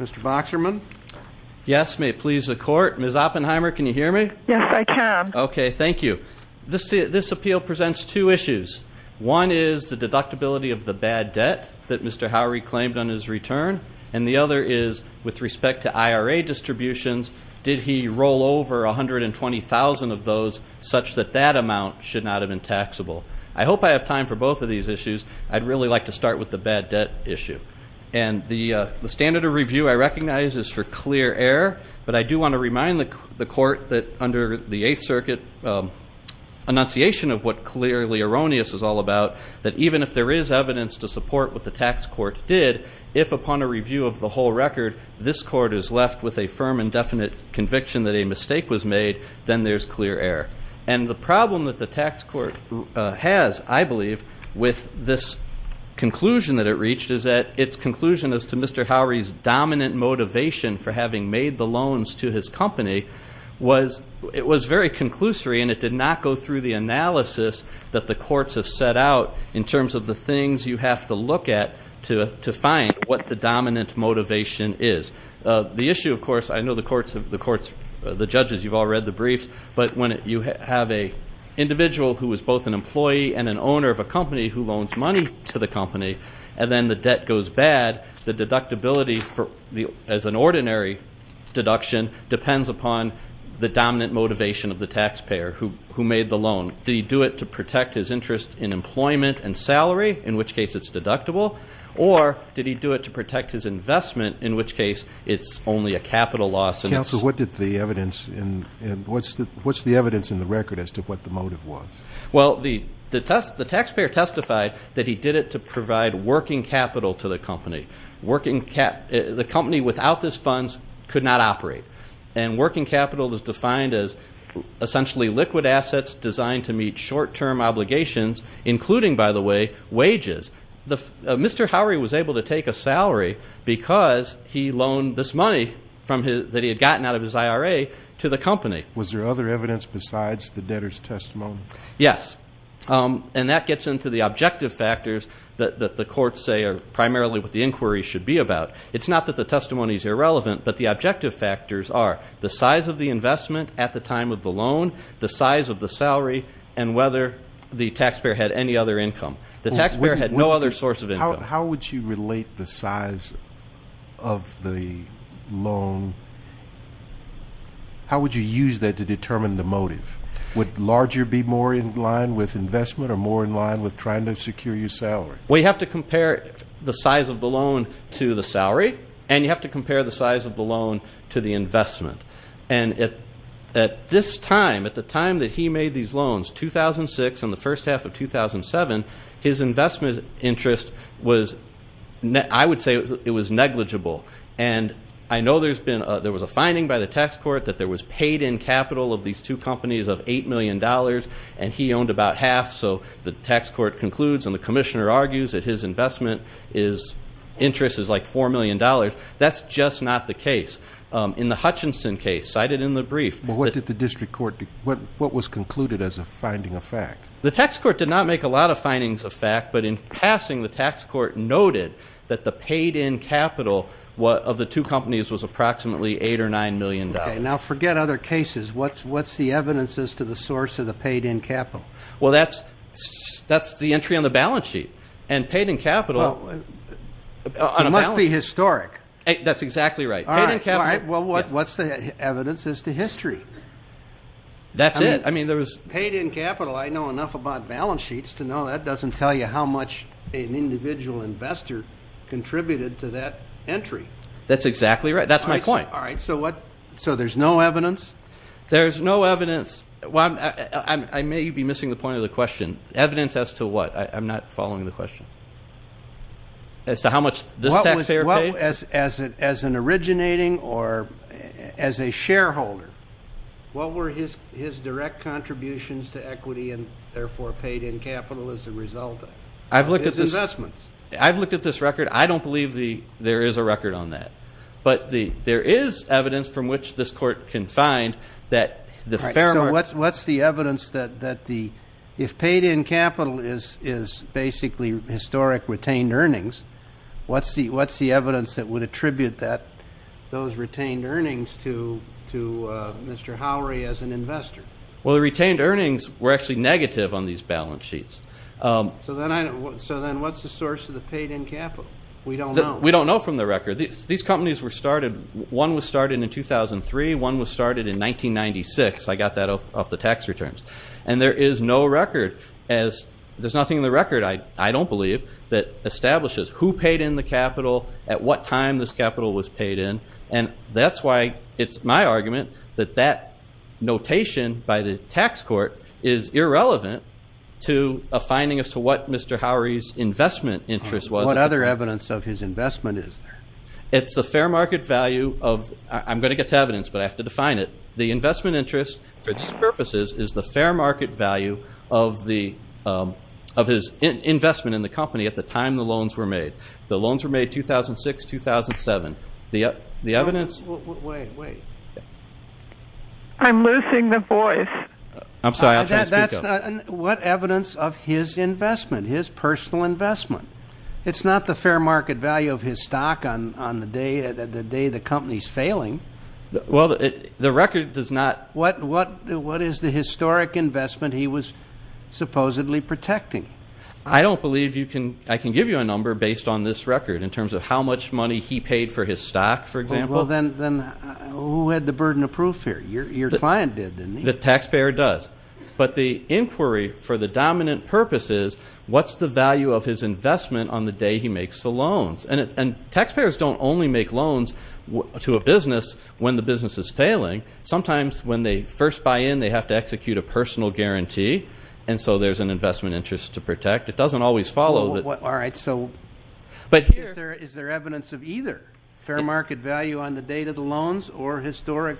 Mr. Boxerman Yes, may it please the court. Ms. Oppenheimer. Can you hear me? Yes, I can. Okay. Thank you This this appeal presents two issues. One is the deductibility of the bad debt that mr Howery claimed on his return and the other is with respect to IRA distributions Did he roll over a hundred and twenty thousand of those such that that amount should not have been taxable? I hope I have time for both of these issues I'd really like to start with the bad debt issue and the the standard of review I recognize is for clear error, but I do want to remind the court that under the 8th Circuit Annunciation of what clearly erroneous is all about that Even if there is evidence to support what the tax court did if upon a review of the whole record This court is left with a firm and definite conviction that a mistake was made Then there's clear error and the problem that the tax court has I believe with this Conclusion that it reached is that its conclusion as to mr Howery's dominant motivation for having made the loans to his company was it was very conclusory and it did not go through the Analysis that the courts have set out in terms of the things you have to look at to to find what the dominant Motivation is the issue of course, I know the courts of the courts the judges. You've all read the briefs but when you have a Individual who was both an employee and an owner of a company who loans money to the company and then the debt goes bad The deductibility for the as an ordinary Deduction depends upon the dominant motivation of the taxpayer who who made the loan? Do you do it to protect his interest in employment and salary in which case it's deductible or did he do it to protect? His investment in which case it's only a capital loss. And that's what did the evidence in and what's the what's the evidence in? The record as to what the motive was Well, the the test the taxpayer testified that he did it to provide working capital to the company working cap the company without this funds could not operate and working capital is defined as Essentially liquid assets designed to meet short-term obligations Including by the way wages the mr How are you was able to take a salary? Because he loaned this money from his that he had gotten out of his IRA to the company Was there other evidence besides the debtors testimony? Yes And that gets into the objective factors that the courts say are primarily what the inquiry should be about It's not that the testimony is irrelevant but the objective factors are the size of the investment at the time of the loan the size of the salary and whether The taxpayer had any other income the taxpayer had no other source of it. How would you relate the size of? the loan How would you use that to determine the motive Would larger be more in line with investment or more in line with trying to secure your salary? we have to compare the size of the loan to the salary and you have to compare the size of the loan to the Investment and it at this time at the time that he made these loans 2006 in the first half of 2007 his investment interest was net I would say it was negligible and I know there's been there was a finding by the tax court that there was paid in capital of these two companies of eight million Dollars and he owned about half. So the tax court concludes and the commissioner argues that his investment is Interests is like four million dollars. That's just not the case in the Hutchinson case cited in the brief But what did the district court do what what was concluded as a finding of fact? The tax court did not make a lot of findings of fact But in passing the tax court noted that the paid-in capital What of the two companies was approximately eight or nine million dollars now forget other cases? What's what's the evidence as to the source of the paid-in capital? Well, that's That's the entry on the balance sheet and paid-in capital Must be historic. That's exactly right. All right. Well, what what's the evidence is the history? That's it. I mean there was paid-in capital I know enough about balance sheets to know that doesn't tell you how much an individual investor Contributed to that entry. That's exactly right. That's my point. All right. So what so there's no evidence There's no evidence. Well, I may be missing the point of the question evidence as to what I'm not following the question as to how much this taxpayer well as as it as an originating or as a shareholder and What were his his direct contributions to equity and therefore paid-in capital as a result? I've looked at his investments I've looked at this record I don't believe the there is a record on that but the there is evidence from which this court can find that the fair So what's what's the evidence that that the if paid-in capital is is basically historic retained earnings? What's the what's the evidence that would attribute that those retained earnings to to? Mr. Howery as an investor. Well, the retained earnings were actually negative on these balance sheets So then I know so then what's the source of the paid-in capital? We don't know we don't know from the record these companies were started one was started in 2003 one was started in 1996 I got that off the tax returns and there is no record as There's nothing in the record I don't believe that Establishes who paid in the capital at what time this capital was paid in and that's why it's my argument that that Notation by the tax court is irrelevant to a finding as to what? Mr. Howery's investment interest was what other evidence of his investment is there? It's the fair market value of I'm going to get to evidence but I have to define it the investment interest for these purposes is the fair market value of the Of his investment in the company at the time. The loans were made the loans were made 2006 2007 the the evidence I'm losing the voice I'm sorry What evidence of his investment his personal investment? It's not the fair market value of his stock on on the day that the day the company's failing Well, the record does not what what what is the historic investment? He was Supposedly protecting I don't believe you can I can give you a number based on this record in terms of how much money he paid For his stock for example, then then who had the burden of proof here? You're your client did the taxpayer does but the inquiry for the dominant purpose is what's the value of his? Investment on the day he makes the loans and it and taxpayers don't only make loans To a business when the business is failing sometimes when they first buy in they have to execute a personal guarantee And so there's an investment interest to protect. It doesn't always follow that. All right, so But is there is there evidence of either fair market value on the date of the loans or historic?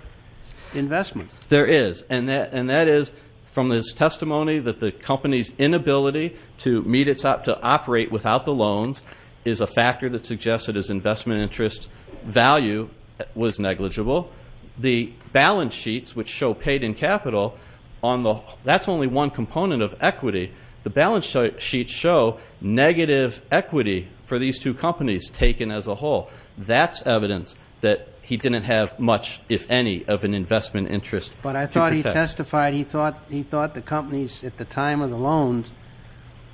Investment there is and that and that is from this testimony that the company's inability to meet It's up to operate without the loans is a factor that suggested as investment interest value Was negligible the balance sheets which show paid-in capital on the that's only one component of equity The balance sheet show negative equity for these two companies taken as a whole That's evidence that he didn't have much if any of an investment interest, but I thought he testified He thought he thought the company's at the time of the loans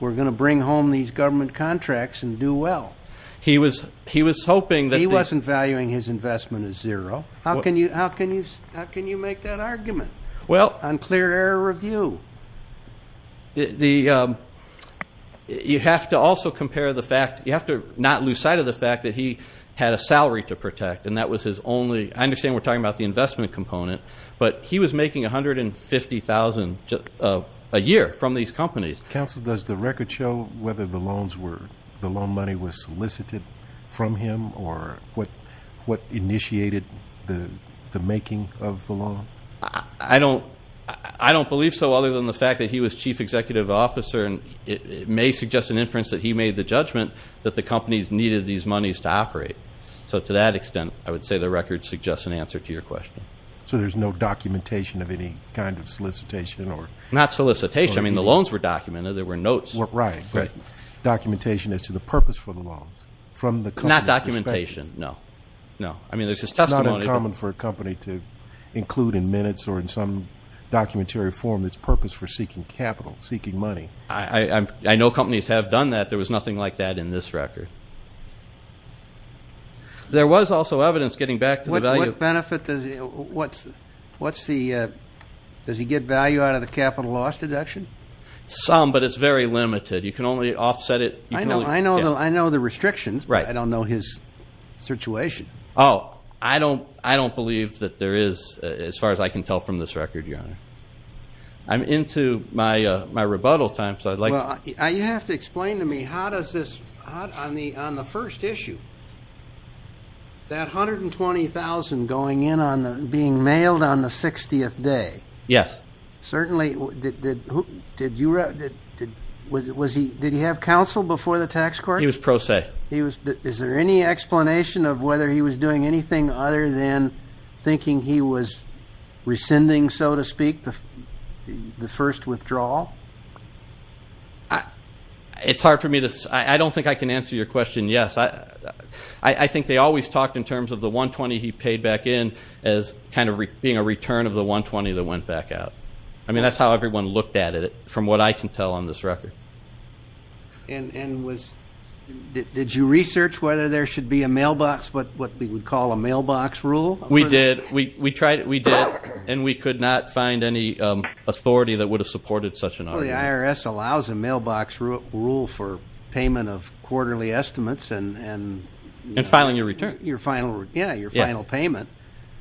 We're gonna bring home these government contracts and do well He was he was hoping that he wasn't valuing his investment as zero. How can you how can you how can you make that argument? Well unclear air review The You have to also compare the fact you have to not lose sight of the fact that he had a salary to protect and That was his only I understand we're talking about the investment component, but he was making a hundred and fifty thousand Just a year from these companies counsel Does the record show whether the loans were the loan money was solicited from him or what? What initiated the the making of the law? I don't I don't believe so other than the fact that he was chief executive officer and it may suggest an inference that he made The judgment that the company's needed these monies to operate So to that extent I would say the record suggests an answer to your question So there's no documentation of any kind of solicitation or not solicitation. I mean the loans were documented there were notes work, right? Documentation is to the purpose for the loans from the not documentation. No, no Common for a company to include in minutes or in some Documentary form its purpose for seeking capital seeking money. I I know companies have done that there was nothing like that in this record There was also evidence getting back to the value benefit does what's what's the Does he get value out of the capital loss deduction? Some but it's very limited. You can only offset it. I know I know though. I know the restrictions, right? I don't know his Situation. Oh, I don't I don't believe that there is as far as I can tell from this record your honor I'm into my my rebuttal time. So I'd like you have to explain to me. How does this on the on the first issue? That 120,000 going in on the being mailed on the 60th day. Yes, certainly Did you read it? Was it was he did he have counsel before the tax court he was pro se he was is there any explanation of whether he was doing anything other than thinking he was rescinding so to speak the the first withdrawal I It's hard for me to I don't think I can answer your question. Yes, I I Think they always talked in terms of the 120 He paid back in as kind of being a return of the 120 that went back out I mean, that's how everyone looked at it from what I can tell on this record and and was Did you research whether there should be a mailbox? But what we would call a mailbox rule We did we we tried it we did and we could not find any authority that would have supported such an IRS allows a mailbox rule for payment of quarterly estimates and And filing your return your final. Yeah your final payment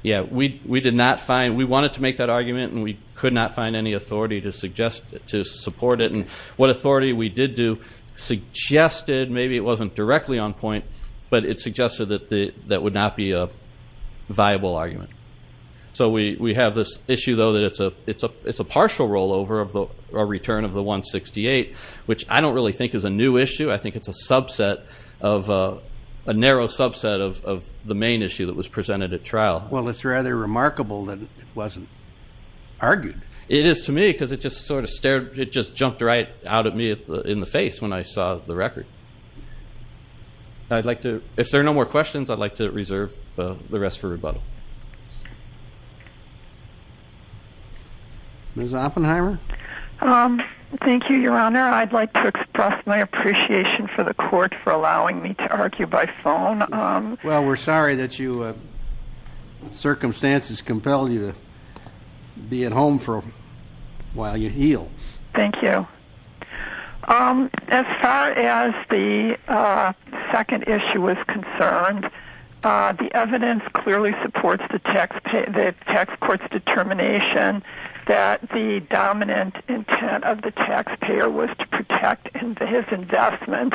Yeah, we we did not find we wanted to make that argument and we could not find any authority to suggest it to support it And what authority we did do Suggested maybe it wasn't directly on point, but it suggested that the that would not be a viable argument So we we have this issue though that it's a it's a it's a partial rollover of the return of the 168 Which I don't really think is a new issue. I think it's a subset of a Well, it's rather remarkable that it wasn't Argued it is to me because it just sort of stared it just jumped right out at me in the face when I saw the record I'd like to if there are no more questions. I'd like to reserve the rest for rebuttal Ms. Oppenheimer Thank you, your honor. I'd like to express my appreciation for the court for allowing me to argue by phone well, we're sorry that you Circumstances compel you to be at home for a while you heal. Thank you As far as the second issue was concerned the evidence clearly supports the taxpayer that tax courts determination that the Dominant intent of the taxpayer was to protect into his investment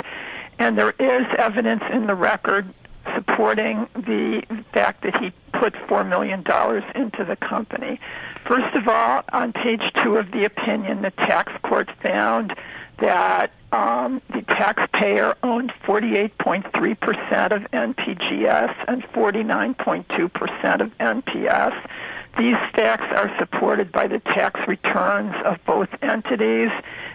and there is evidence in the record Supporting the fact that he put four million dollars into the company first of all on page two of the opinion the tax courts found that The taxpayer owned forty eight point three percent of NPGS and forty nine point two percent of NPS These facts are supported by the tax returns of both entities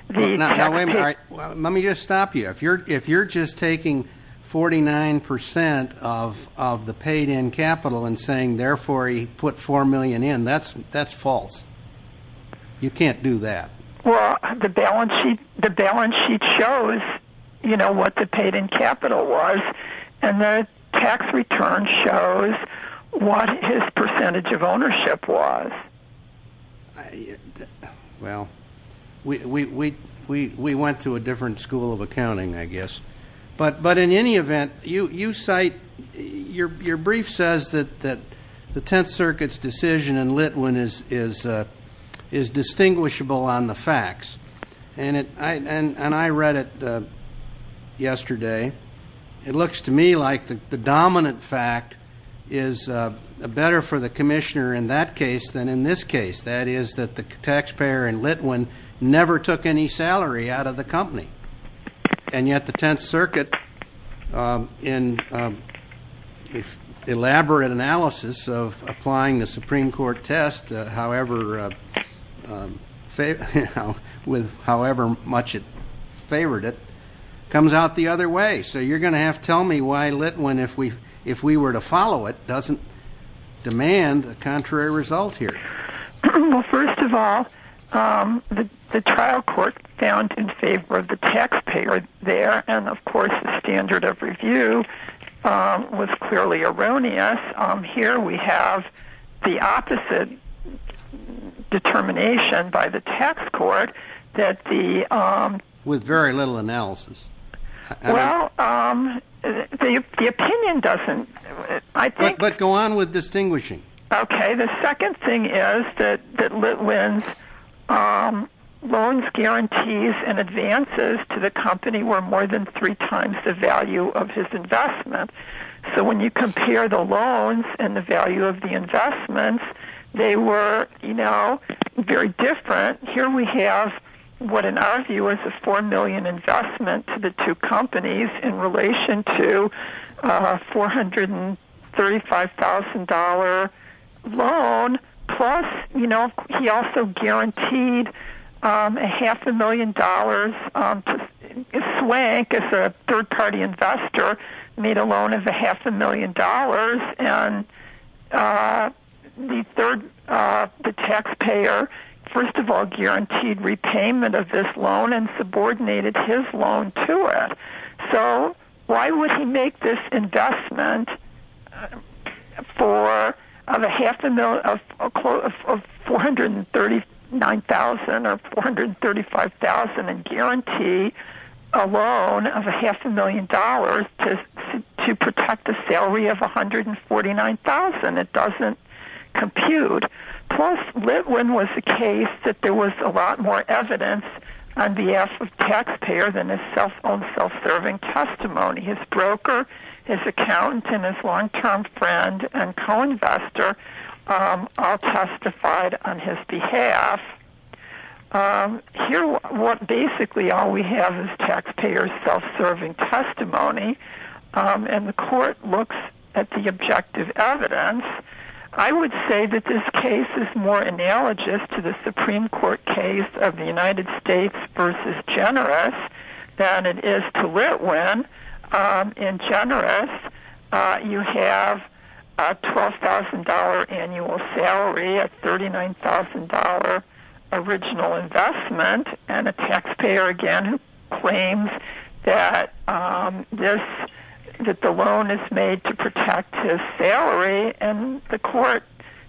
No, wait, let me just stop you if you're if you're just taking Forty nine percent of of the paid-in capital and saying therefore he put four million in that's that's false You can't do that. Well the balance sheet the balance sheet shows You know what the paid-in capital was and the tax return shows What his percentage of ownership was? I well We we we we went to a different school of accounting I guess but but in any event you you cite your your brief says that that the Tenth Circuit's decision and Litwin is is is Distinguishable on the facts and it and and I read it yesterday it looks to me like the dominant fact is Better for the Commissioner in that case than in this case That is that the taxpayer and Litwin never took any salary out of the company and yet the Tenth Circuit in Elaborate analysis of applying the Supreme Court test, however Fav with however much it favored it comes out the other way So you're gonna have tell me why lit one if we if we were to follow it doesn't Demand a contrary result here well, first of all The the trial court found in favor of the taxpayer there and of course the standard of review Was clearly erroneous Here we have the opposite Determination by the tax court that the with very little analysis Well The opinion doesn't I think but go on with distinguishing. Okay. The second thing is that that Litwin's Loans guarantees and advances to the company were more than three times the value of his investment So when you compare the loans and the value of the investments they were you know Very different here. We have what in our view is a four million investment to the two companies in relation to $435,000 Loan plus, you know, he also guaranteed a half a million dollars Swank is a third-party investor made a loan of a half a million dollars and The third the taxpayer First of all guaranteed repayment of this loan and subordinated his loan to it So why would he make this investment? For a half a million of 439,000 or 435,000 and guarantee a loan of a half a million dollars to to protect the salary of 439,000 it doesn't compute Plus Litwin was the case that there was a lot more evidence on behalf of taxpayer than a self-owned Self-serving testimony his broker his accountant and his long-term friend and co-investor All testified on his behalf Here what basically all we have is taxpayers self-serving testimony And the court looks at the objective evidence I would say that this case is more analogous to the Supreme Court case of the United States versus generous than it is to lit when in generous you have $12,000 annual salary at thirty nine thousand dollar original investment and a taxpayer again claims that This That the loan is made to protect his salary and the court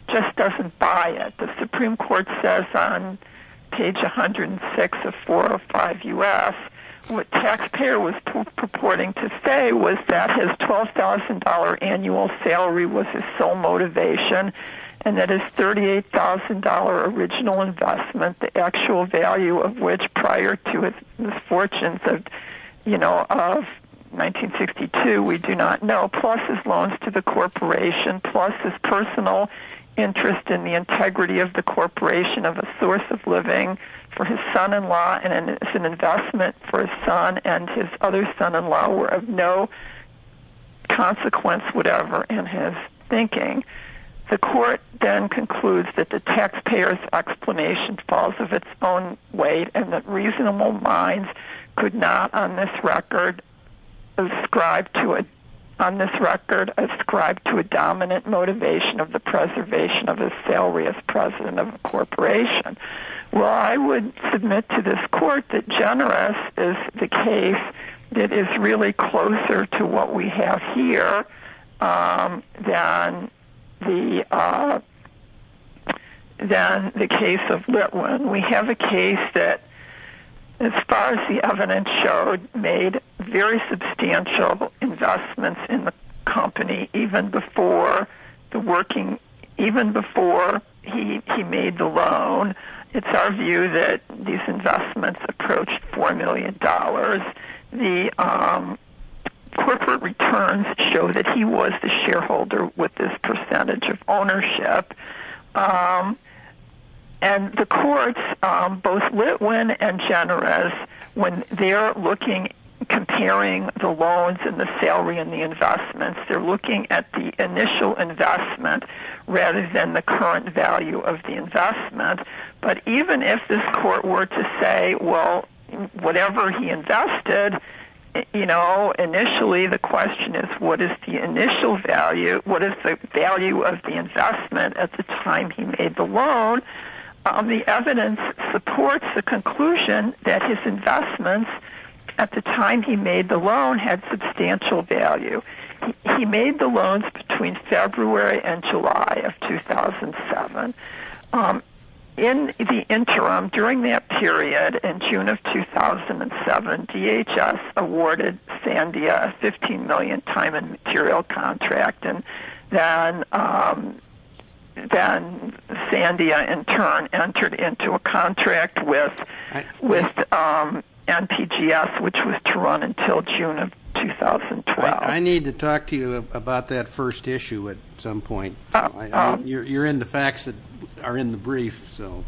just doesn't buy it the Supreme Court says on page a hundred and six of four or five u.s. What taxpayer was purporting to say was that his twelve thousand dollar annual salary was his sole motivation and that? Is thirty eight thousand dollar original investment the actual value of which prior to it misfortunes of you know? 1962 we do not know plus his loans to the corporation plus his personal interest in the integrity of the Corporation of a source of living for his son-in-law and it's an investment for his son and his other son-in-law were of no Consequence whatever in his thinking the court then concludes that the taxpayers Explanation falls of its own weight and that reasonable minds could not on this record Describe to it on this record ascribed to a dominant motivation of the preservation of his salary as president of the corporation Well, I would submit to this court that generous is the case. It is really closer to what we have here then the Case of that one. We have a case that As far as the evidence showed made very substantial investments in the company even before The working even before he he made the loan It's our view that these investments approached four million dollars the Corporate returns show that he was the shareholder with this percentage of ownership And the courts both Litwin and generous when they're looking Comparing the loans and the salary and the investments. They're looking at the initial investment Rather than the current value of the investment, but even if this court were to say well Whatever he invested, you know initially the question is what is the initial value? What is the value of the investment at the time? He made the loan? The evidence supports the conclusion that his investments at the time He made the loan had substantial value. He made the loans between February and July of 2007 in the interim during that period in June of 2007 DHS awarded Sandia a 15 million time and material contract and then Then Sandia in turn entered into a contract with with NPGS which was to run until June of 2012 I need to talk to you about that first issue at some point You're in the facts that are in the brief. So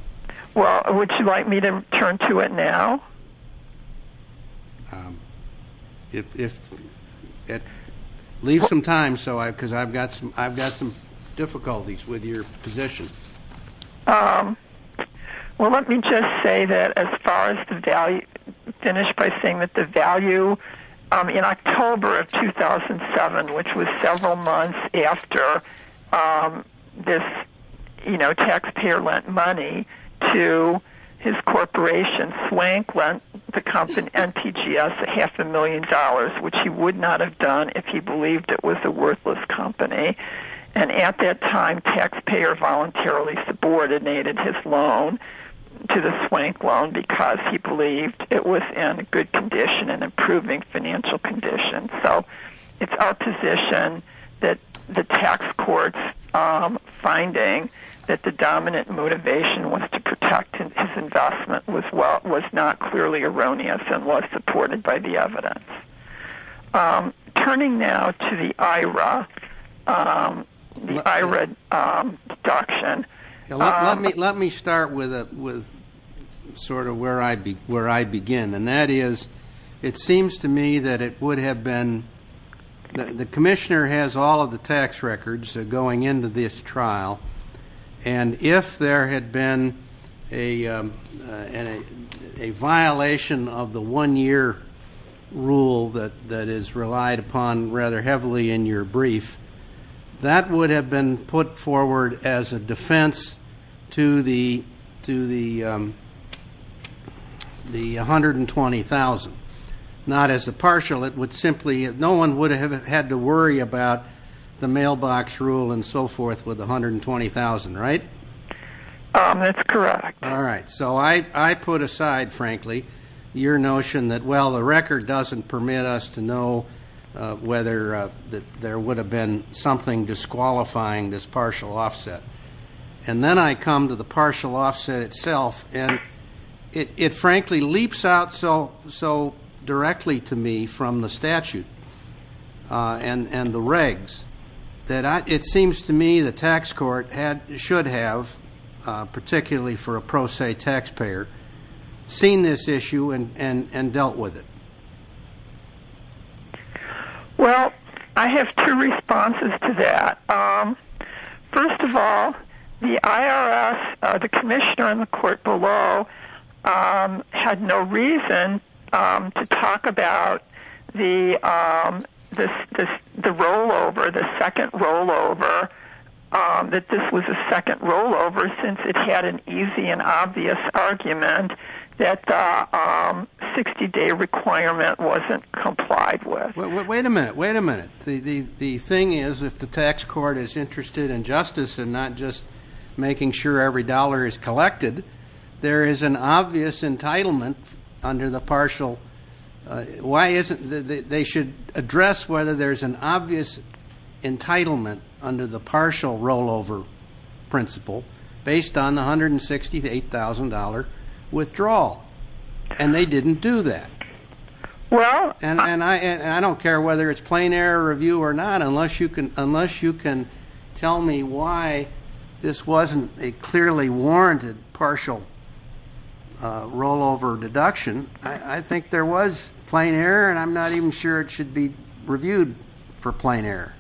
well, would you like me to turn to it now? If It leaves some time so I because I've got some I've got some difficulties with your position Well, let me just say that as far as the value finished by saying that the value in October of 2007 which was several months after This, you know taxpayer lent money to His corporation swank lent the company and TGS a half a million dollars Which he would not have done if he believed it was a worthless company and at that time taxpayer voluntarily subordinated his loan To the swank loan because he believed it was in a good condition and improving financial condition So it's our position that the tax courts Finding that the dominant motivation was to protect and his investment was well was not clearly erroneous And was supported by the evidence Turning now to the IRA The IRA deduction let me start with a with Sort of where I'd be where I begin and that is it seems to me that it would have been The commissioner has all of the tax records going into this trial and if there had been a Violation of the one-year Rule that that is relied upon rather heavily in your brief that would have been put forward as a defense to the to the The 120,000 not as a partial it would simply no one would have had to worry about The mailbox rule and so forth with 120,000, right? That's correct. All right, so I I put aside frankly your notion that well the record doesn't permit us to know whether that there would have been something disqualifying this partial offset and Then I come to the partial offset itself and it it frankly leaps out. So so directly to me from the statute And and the regs that I it seems to me the tax court had should have particularly for a pro se taxpayer Seen this issue and and and dealt with it Well, I have two responses to that First of all the IRS the commissioner on the court below Had no reason to talk about the This this the rollover the second rollover that this was a second rollover since it had an easy and obvious argument that 60 day requirement wasn't complied with Wait a minute. Wait a minute The the thing is if the tax court is interested in justice and not just making sure every dollar is collected There is an obvious entitlement under the partial Why isn't they should address whether there's an obvious? entitlement under the partial rollover principle based on the hundred and sixty eight thousand dollar Withdrawal and they didn't do that Well, and and I and I don't care whether it's plain error review or not unless you can unless you can tell me why This wasn't a clearly warranted partial Rollover deduction. I think there was plain error and I'm not even sure it should be reviewed for plain error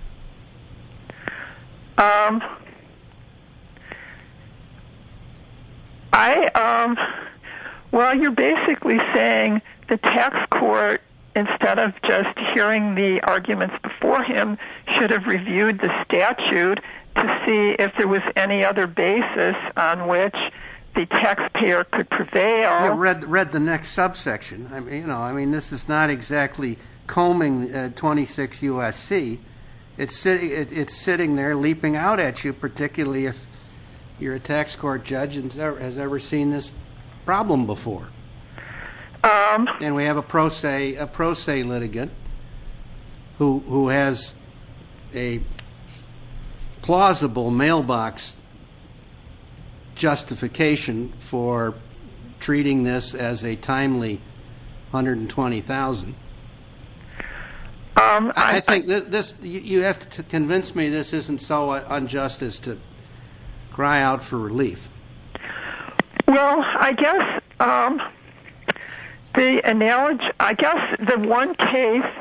I Well, you're basically saying the tax court instead of just hearing the arguments before him should have reviewed the Statute to see if there was any other basis on which the taxpayer could prevail Read the next subsection. I mean, you know, I mean, this is not exactly combing 26 USC it's sitting it's sitting there leaping out at you particularly if You're a tax court judge and sir has ever seen this problem before And we have a pro se a pro se litigant who has a Plausible mailbox Justification for treating this as a timely hundred and twenty thousand I think this you have to convince me. This isn't so unjust as to cry out for relief Well, I guess The analogy I guess the one case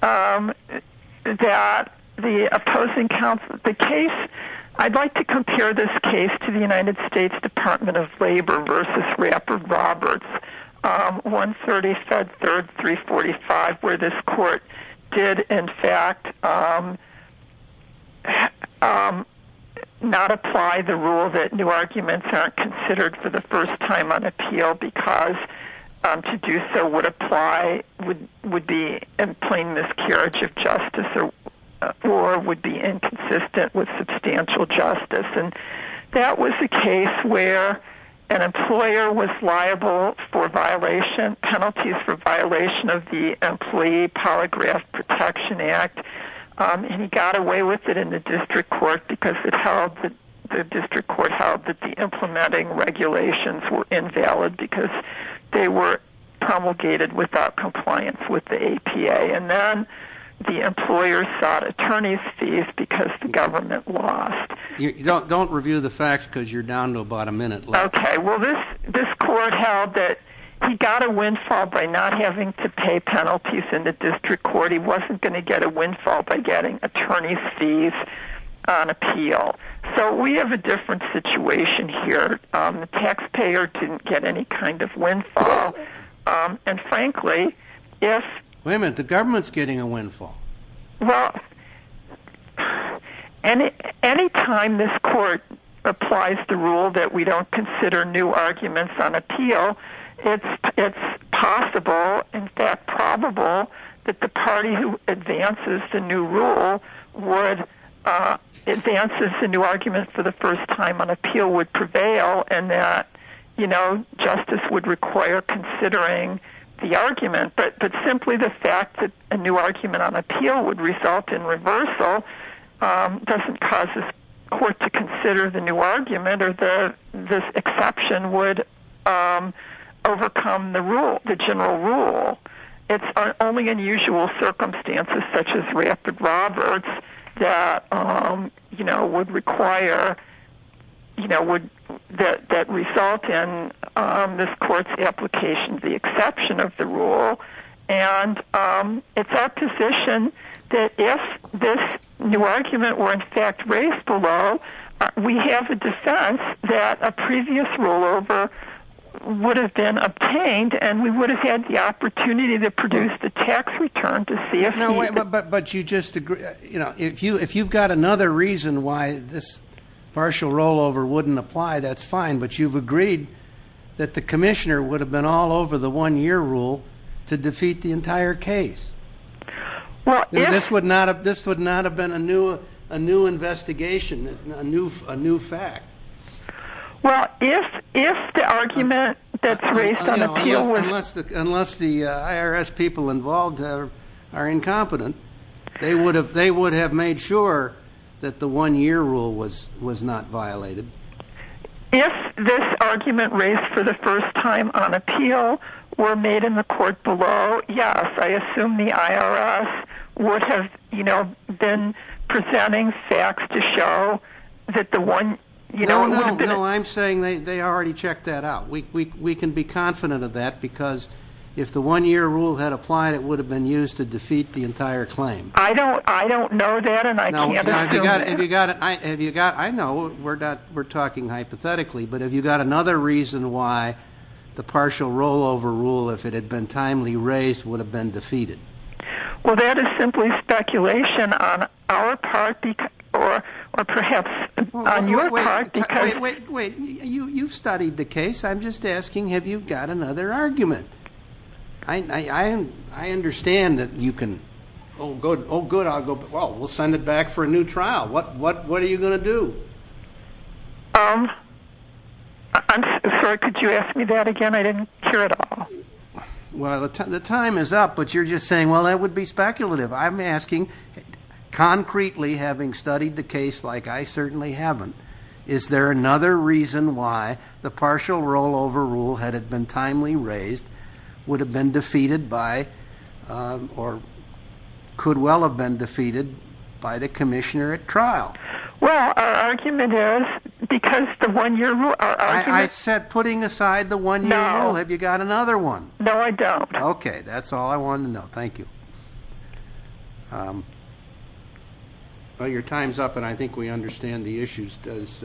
That the opposing counsel the case I'd like to compare this case to the United States Department of Labor versus Rappert Roberts 135 third 345 where this court did in fact Not Apply the rule that new arguments are considered for the first time on appeal because to do so would apply would would be in plain miscarriage of justice or or would be inconsistent with substantial justice and that was the case where an Employer was liable for violation penalties for violation of the employee polygraph Protection Act And he got away with it in the district court because it held that the district court held that the implementing regulations were invalid because they were Promulgated without compliance with the APA and then the employer sought attorney's fees because the government lost Don't review the facts because you're down to about a minute. Okay? Well this this court held that he got a windfall by not having to pay penalties in the district court He wasn't going to get a windfall by getting attorney's fees On appeal so we have a different situation here the taxpayer didn't get any kind of windfall And frankly, yes women the government's getting a windfall. Well And any time this court applies the rule that we don't consider new arguments on appeal It's it's possible in fact probable that the party who advances the new rule would Advances the new argument for the first time on appeal would prevail and that you know justice would require Considering the argument, but but simply the fact that a new argument on appeal would result in reversal Doesn't cause this court to consider the new argument or the this exception would Overcome the rule the general rule It's only unusual circumstances such as rapid robberies that um you know would require You know would that that result in this court's application the exception of the rule and It's our position that if this new argument were in fact raised below We have a defense that a previous rollover Would have been obtained and we would have had the opportunity to produce the tax return to see if no way But but you just agree. You know if you if you've got another reason why this Partial rollover wouldn't apply that's fine But you've agreed that the commissioner would have been all over the one-year rule to defeat the entire case Well, this would not have this would not have been a new a new investigation a new a new fact Well if if the argument that's raised on a few unless the unless the IRS people involved are Incompetent they would have they would have made sure that the one-year rule was was not violated If this argument raised for the first time on appeal were made in the court below yes I assume the IRS would have you know been Presenting facts to show that the one you know I'm saying they already checked that out We can be confident of that because if the one-year rule had applied it would have been used to defeat the entire claim I don't I don't know that and I You got it. I have you got I know we're not we're talking hypothetically, but have you got another reason why? The partial rollover rule if it had been timely raised would have been defeated Well that is simply speculation on our part or or perhaps Wait you you've studied the case. I'm just asking have you got another argument I Understand that you can oh good. Oh good. I'll go. Well. We'll send it back for a new trial. What what what are you gonna? Do um? I'm sorry could you ask me that again? I didn't care at all Well the time is up, but you're just saying well, that would be speculative I'm asking Concretely having studied the case like I certainly haven't is there another reason why the partial rollover rule had had been timely raised would have been defeated by or Could well have been defeated by the commissioner at trial Well Because the one year I said putting aside the one you know, have you got another one? No, I don't okay That's all I want to know. Thank you Well your time's up and I think we understand the issues does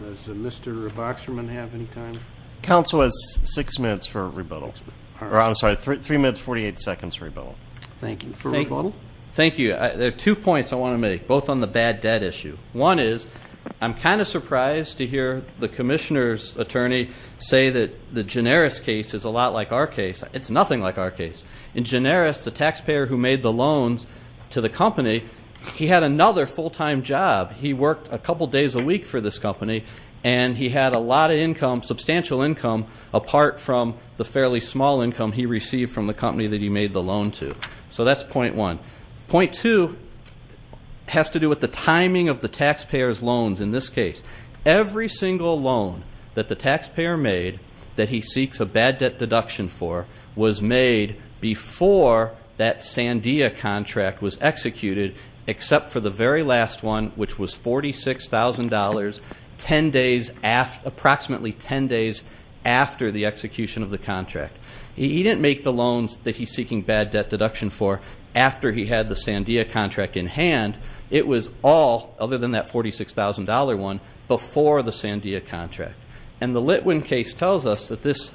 Mr. Boxerman have any time council has six minutes for rebuttal or I'm sorry three minutes 48 seconds rebuttal Thank you. Thank you. Thank you. There are two points. I want to make both on the bad debt issue One is I'm kind of surprised to hear the commissioners attorney say that the generis case is a lot like our case It's nothing like our case in generis the taxpayer who made the loans to the company. He had another full-time job He worked a couple days a week for this company and he had a lot of income substantial income Apart from the fairly small income he received from the company that he made the loan to so that's point one point two Has to do with the timing of the taxpayers loans in this case Every single loan that the taxpayer made that he seeks a bad debt deduction for was made Before that Sandia contract was executed except for the very last one, which was $46,000 ten days after approximately ten days after the execution of the contract He didn't make the loans that he's seeking bad debt deduction for after he had the Sandia contract in hand It was all other than that $46,000 one before the Sandia contract and the Litwin case tells us that this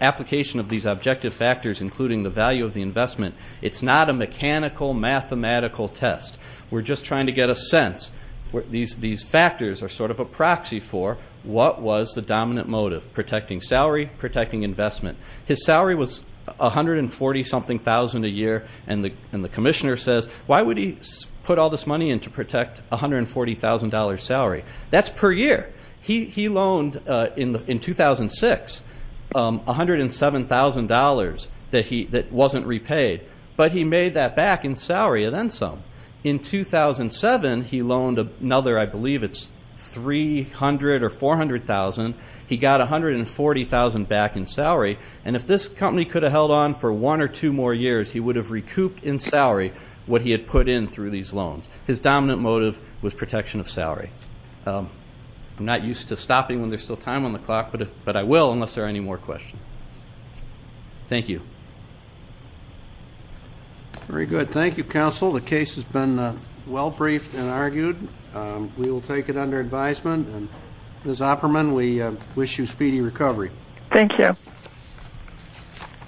Application of these objective factors including the value of the investment. It's not a mechanical Mathematical test. We're just trying to get a sense where these these factors are sort of a proxy for what was the dominant motive? Protecting salary protecting investment. His salary was a hundred and forty something thousand a year and the and the Commissioner says Why would he put all this money in to protect? $140,000 salary that's per year. He he loaned in the in 2006 $107,000 that he that wasn't repaid but he made that back in salary and then some in 2007 he loaned another I believe it's 300 or 400,000 he got a hundred and forty thousand back in salary And if this company could have held on for one or two more years He would have recouped in salary what he had put in through these loans. His dominant motive was protection of salary I'm not used to stopping when there's still time on the clock, but but I will unless there are any more questions Thank you Very good. Thank you counsel. The case has been well briefed and argued We will take it under advisement and as operman we wish you speedy recovery, thank you